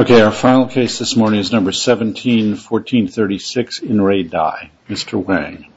Okay, our final case this morning is number 17, 1436 in Re Dai. Mr. Wang.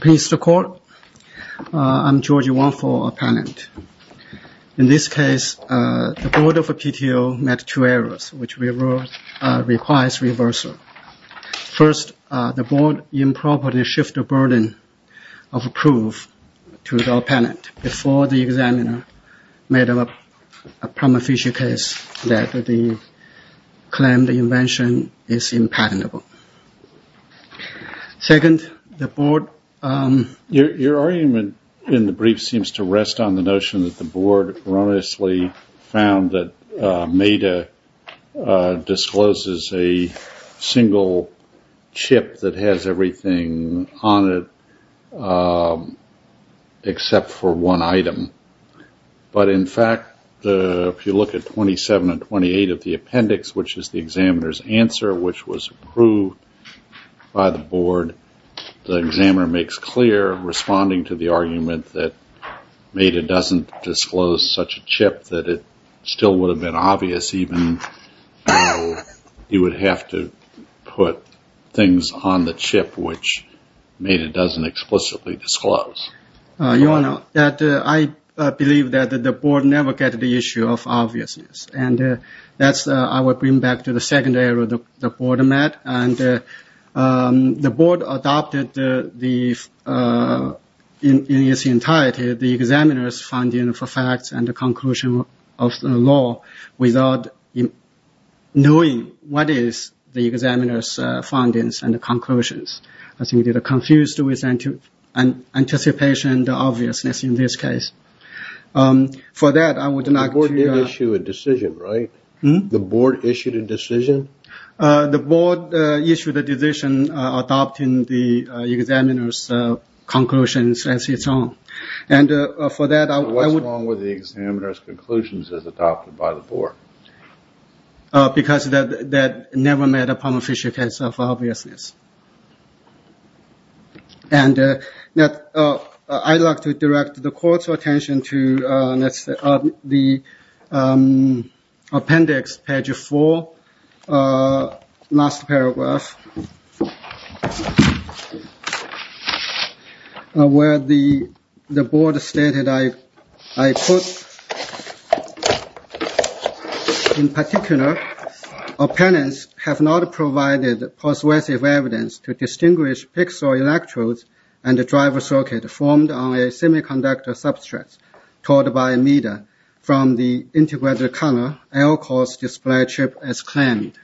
Please record. I'm George Wang for our panel. In this case, the board of PTO met two errors, which requires reversal. First, the board improperly shifted the burden of proof to the opponent before the examiner made a prima facie case that they claimed the invention is impotent. Second, the board Your argument in the brief seems to rest on the notion that the board erroneously found that META discloses a single chip that has everything on it except for one item. In fact, if you look at 27 and 28 of the appendix, which is the examiner's answer, which was approved by the board, the examiner makes it clear, responding to the argument that META doesn't disclose such a chip, that it still would have been obvious even though you would have to put things on the chip which META doesn't explicitly disclose. I believe that the board never gets the issue of obviousness. I will bring back to the second error the board met. The board adopted the in its entirety the examiner's finding for facts and the conclusion of the law without knowing what is the examiner's findings and conclusions. I think they were confused with anticipation and obviousness in this case. For that, I would like to The board did issue a decision, right? The board issued a decision? The board issued a decision adopting the examiner's conclusions as its own. For that, I would What's wrong with the examiner's conclusions as adopted by the board? Because that never met upon official case of obviousness. And I'd like to direct the court's attention to the appendix, page four, last paragraph, where the board stated, I quote, In particular, opponents have not provided persuasive evidence to distinguish pixel electrodes and the driver circuit formed on a semiconductor substrate told by META from the integrated color air-course display chip as claimed.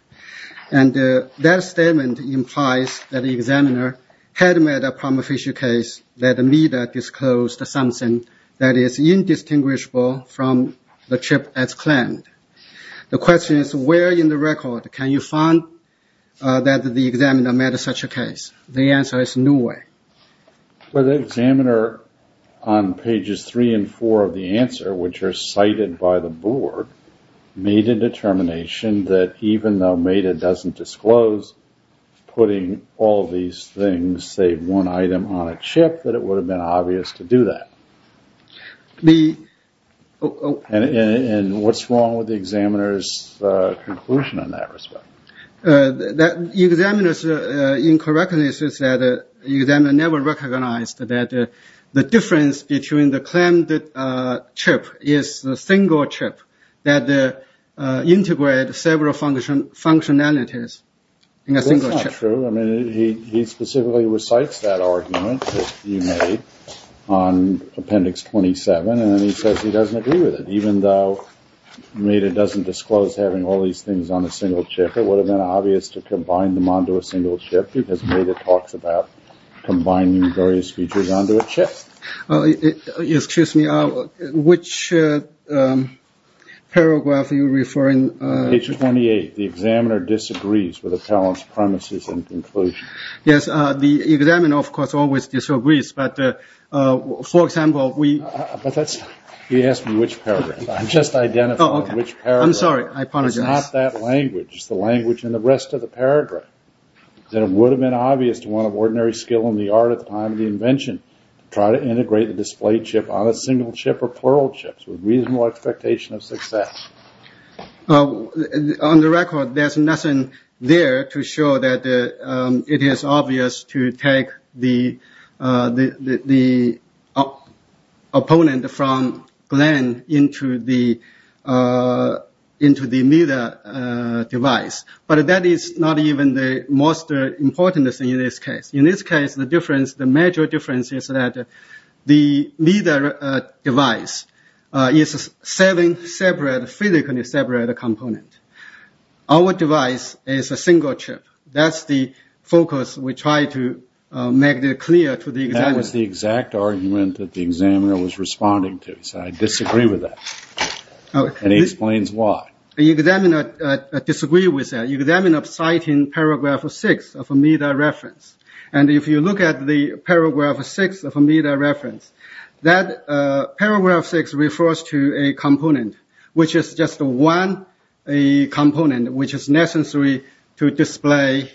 And that statement implies that the examiner had met upon official case that META disclosed something that is indistinguishable from the chip as claimed. The question is, where in the record can you find that the examiner met such a case? The answer is nowhere. But the examiner on pages three and four of the answer, which are cited by the board, made a determination that even though META doesn't disclose putting all these things, say, one item on a chip, that it would have been obvious to do that. And what's wrong with the examiner's conclusion in that respect? The examiner's incorrectness is that the examiner never recognized that the difference between the functionalities in a single chip. That's not true. I mean, he specifically recites that argument that he made on appendix 27, and then he says he doesn't agree with it. Even though META doesn't disclose having all these things on a single chip, it would have been obvious to combine them onto a single chip, because META talks about combining various features onto a chip. Excuse me, which paragraph are you referring to? Page 28, the examiner disagrees with the appellant's premises and conclusion. Yes, the examiner, of course, always disagrees, but, for example, we... But that's... He asked me which paragraph. I'm just identifying which paragraph. Oh, okay. I'm sorry. I apologize. It's not that language. It's the language in the rest of the paragraph, that it would have been obvious to one of ordinary skill in the art at the time of the invention to try to integrate the display chip on a single chip or plural chips with reasonable expectation of success. On the record, there's nothing there to show that it is obvious to take the opponent from Glenn into the META device. But that is not even the most important thing in this case. In this case, the major difference is that the META device is a physically separate component. Our device is a single chip. That's the focus we try to make clear to the examiner. That was the exact argument that the examiner was responding to. He said, I disagree with that. And he explains why. The examiner disagrees with that. The examiner is citing paragraph 6 of a META reference. And if you look at the paragraph 6 of a META reference, that paragraph 6 refers to a component, which is just one component which is necessary to display,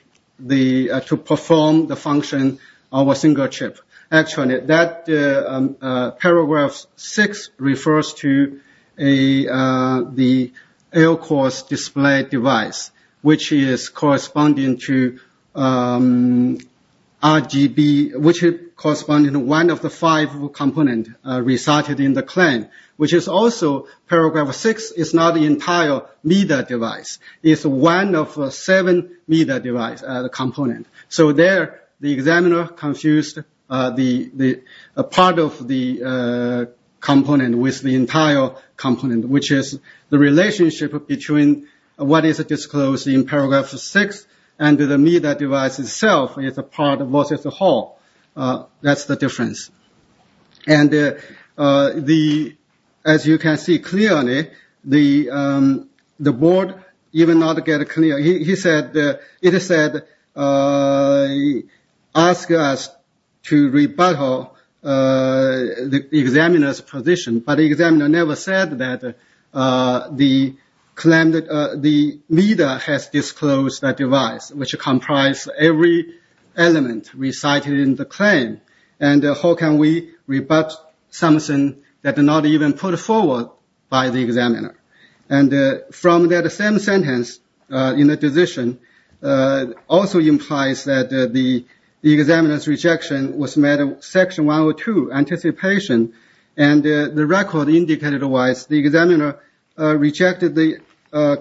to perform the function of a single chip. That paragraph 6 refers to the L-course display device, which is corresponding to RGB, which is corresponding to one of the five components resorted in the claim, which is also paragraph 6 is not an entire META device. It's one of seven META device components. So there, the examiner confused a part of the component with the entire component, which is the relationship between what is disclosed in paragraph 6 and the META device itself is a part versus a whole. That's the difference. And as you can see clearly, the board even not get clear. It said, ask us to rebuttal the examiner's position. But the examiner never said that the META has disclosed that device, which comprises every element recited in the claim. And how can we rebut something that is not even put forward by the examiner? And from that same sentence in the decision, also implies that the examiner's rejection was made in section 102, anticipation. And the record indicated that the examiner rejected the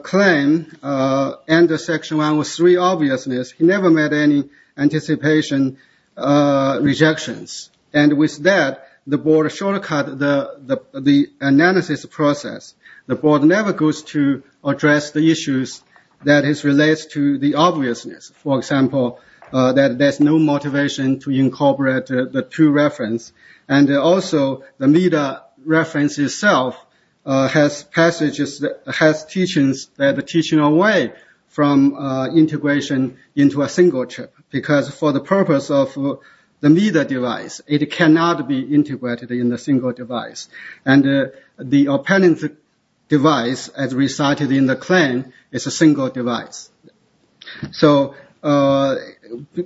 claim under section 103, obviousness. He never made any anticipation rejections. And with that, the board shortcut the analysis process. The board never goes to address the issues that is related to the obviousness. For example, that there's no motivation to incorporate the two references. And also, the META reference itself has passages, has teachings that are teaching away from integration into a single chip. Because for the purpose of the META device, it cannot be integrated in a single device. And the opponent's device as recited in the claim is a single device. So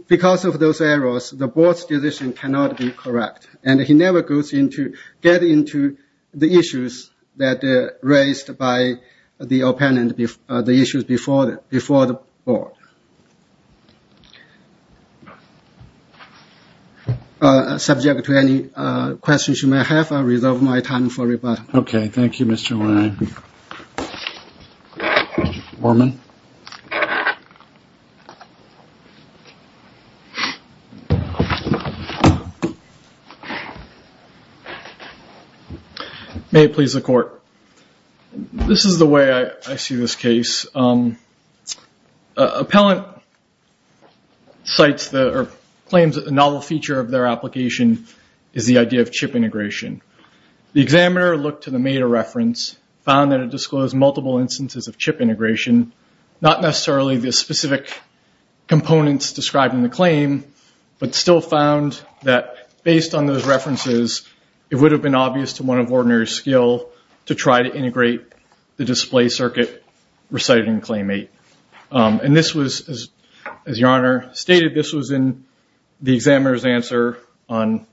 because of those errors, the board's decision cannot be correct. And he never goes into, get into the issues that raised by the opponent, the issues before the board. Subject to any questions you may have, I'll reserve my time for rebuttal. Okay. Thank you, Mr. Wang. Thank you, Mr. Borman. May it please the court. This is the way I see this case. Appellant cites the, or claims that the novel feature of their application is the idea of chip integration. The examiner looked to the META reference, found that it disclosed multiple instances of chip integration, not necessarily the specific components described in the claim, but still found that based on those references, it would have been obvious to one of ordinary skill to try to integrate the display circuit recited in claim eight. And this was, as your Honor stated, this answer on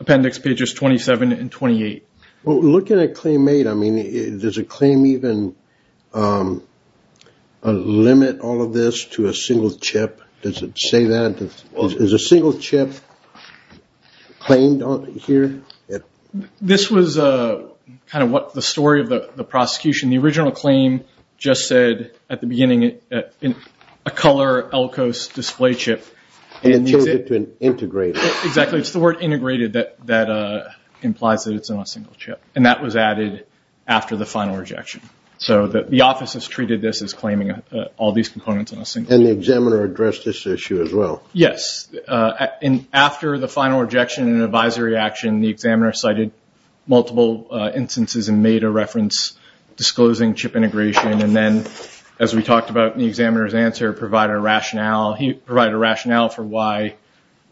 appendix pages 27 and 28. Well, looking at claim eight, I mean, does a claim even limit all of this to a single chip? Does it say that? Is a single chip claimed here? This was kind of what the story of the prosecution, the original claim just said at the beginning, a color Elkos display chip. And it changed it to an integrated. Exactly. It's the word integrated that implies that it's in a single chip. And that was added after the final rejection. So the office has treated this as claiming all these components in a single chip. And the examiner addressed this issue as well. Yes. And after the final rejection and advisory action, the examiner cited multiple instances and made a reference disclosing chip integration. And then, as we talked about in the examiner's answer, provided a rationale. He provided a rationale for why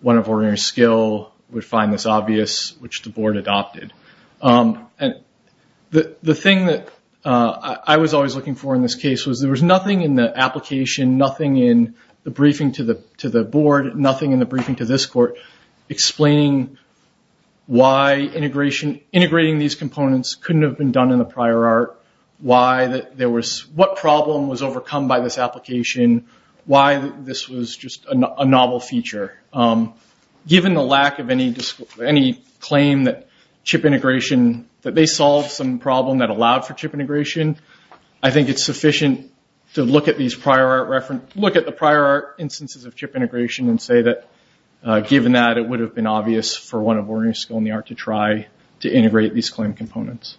one of ordinary skill would find this obvious, which the board adopted. And the thing that I was always looking for in this case was there was nothing in the application, nothing in the briefing to the board, nothing in the briefing to this court explaining why integrating these components couldn't have been done in the prior art. What problem was overcome by this application? Why this was just a novel feature? Given the lack of any claim that chip integration, that they solved some problem that allowed for chip integration, I think it's sufficient to look at the prior art instances of chip integration and say that given that it would have been obvious for one of ordinary skill in the art to try to integrate these claim components.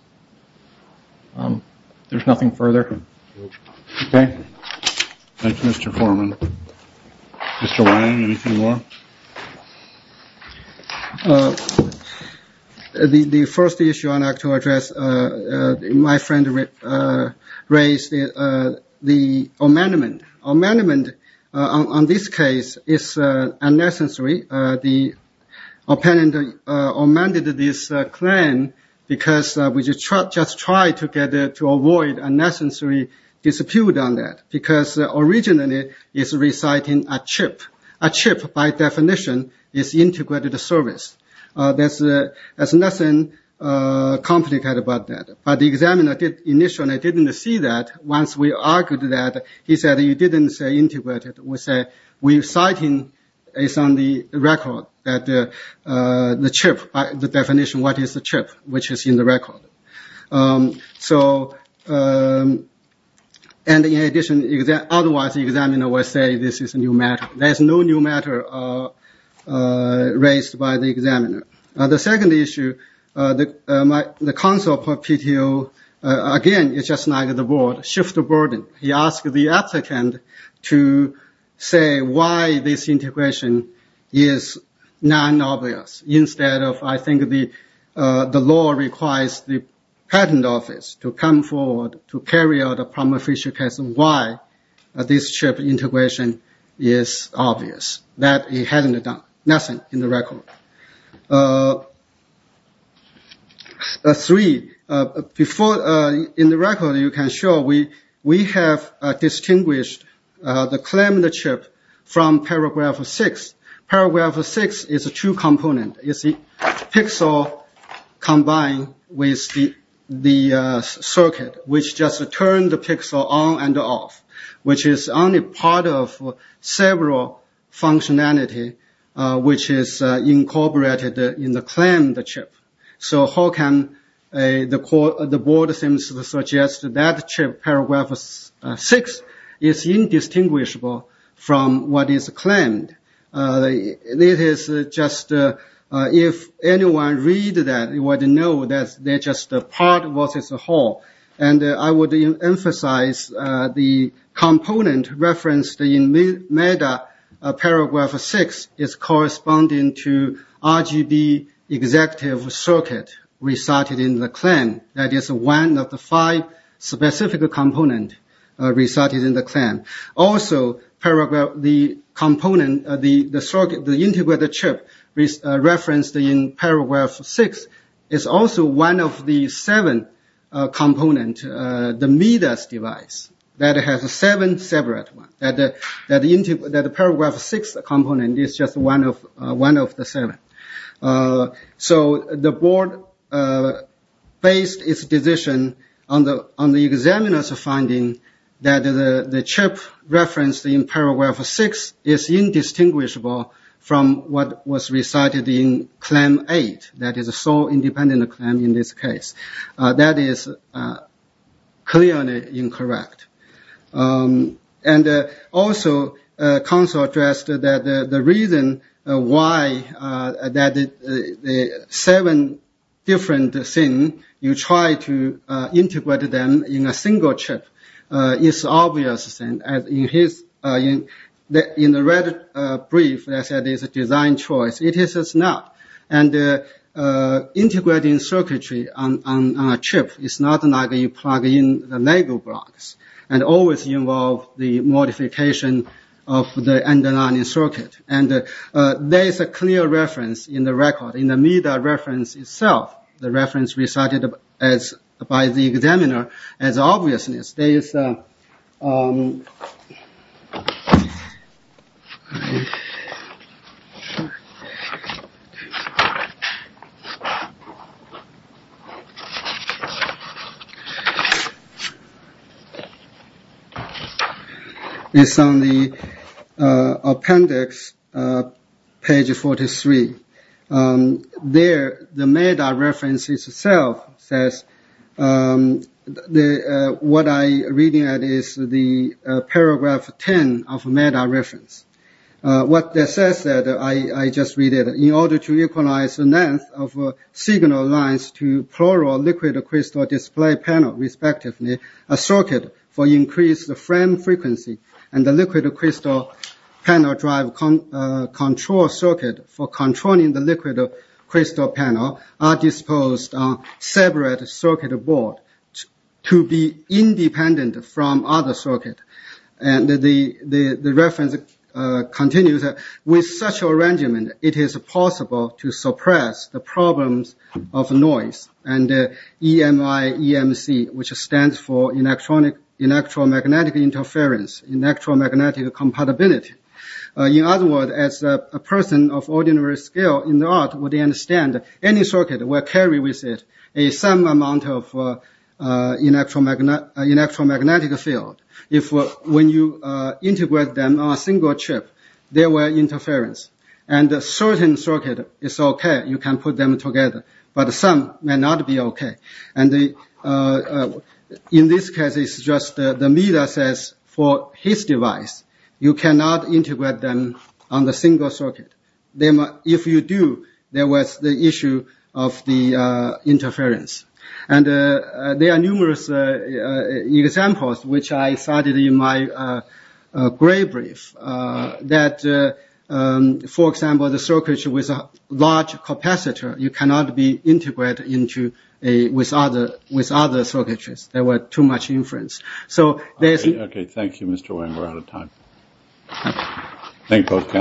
There's nothing further. Okay. Thank you, Mr. Foreman. Mr. Wang, anything more? The first issue I'd like to address, my friend raised the amendment. Amendment on this case is unnecessary. The opponent amended this claim because we just tried to avoid unnecessary dispute on that, because originally it's reciting a chip. A chip, by definition, is integrated service. There's nothing complicated about that. But the examiner initially didn't see that. Once we argued that, he said, you didn't say integrated. We said, we're citing it's on the record that the chip, the definition, what is the chip, which is in the record. In addition, otherwise the examiner will say this is a new matter. There's no new matter raised by the examiner. The second issue, the counsel for PTO, again, it's just like the board, shift the burden. He asked the applicant to say why this integration is non-obvious. Instead of, I think the law requires the patent office to come forward to carry out a prima facie case of why this chip integration is obvious. That he hadn't done nothing in the record. Three, in the record, you can show we have distinguished the claimed chip from paragraph six. Paragraph six is a true component. It's a pixel combined with the circuit, which just turned the pixel on and off, which is only part of several functionality, which is incorporated in the claimed chip. How can the board seems to suggest that chip, paragraph six, is indistinguishable from what is claimed? If anyone read that, they would know that they're just a part of what is a whole. I would emphasize the component referenced in meta paragraph six is corresponding to RGB executive circuit resulted in the claim. That is one of the five specific component resulted in the claim. Also, the component, the circuit, the integrated chip referenced in paragraph six is also one of the seven component, the meta's device, that has a seven separate one. That the paragraph six component is just one of the seven. The board based its decision on the examiner's finding that the chip referenced in paragraph six is indistinguishable from what was recited in claim eight, that is a sole independent claim in this case. That is clearly incorrect. Also, council addressed that the reason why the seven different things, you try to integrate them in a single chip is obvious. In the red brief, they said it's a design choice. It is not. Integrating circuitry on a chip is not like you plug in the Lego blocks and always involve the modification of the underlying circuit. There is a clear reference in the record, reference itself, the reference recited by the examiner as obviousness. It's on the appendix, page 43. There, the meta reference itself says, what I'm reading at is the paragraph 10 of the meta reference. What it says, I just read it, in order to equalize the length of signal lines to plural liquid crystal display panel, respectively, a circuit for increased frame frequency and the liquid crystal panel drive control circuit for board to be independent from other circuit. The reference continues, with such arrangement, it is possible to suppress the problems of noise and EMI, EMC, which stands for electromagnetic interference, electromagnetic compatibility. In other words, as a person of an electromagnetic field, when you integrate them on a single chip, there were interference, and a certain circuit is okay, you can put them together, but some may not be okay. In this case, it's just the meta says, for his device, you cannot integrate them on a single circuit. If you do, there was the issue of the interference. And there are numerous examples, which I cited in my gray brief, that, for example, the circuitry with a large capacitor, you cannot be integrated with other circuitries. There were too much inference. So, okay, thank you, Mr. Wang, we're out of time. Thank you both.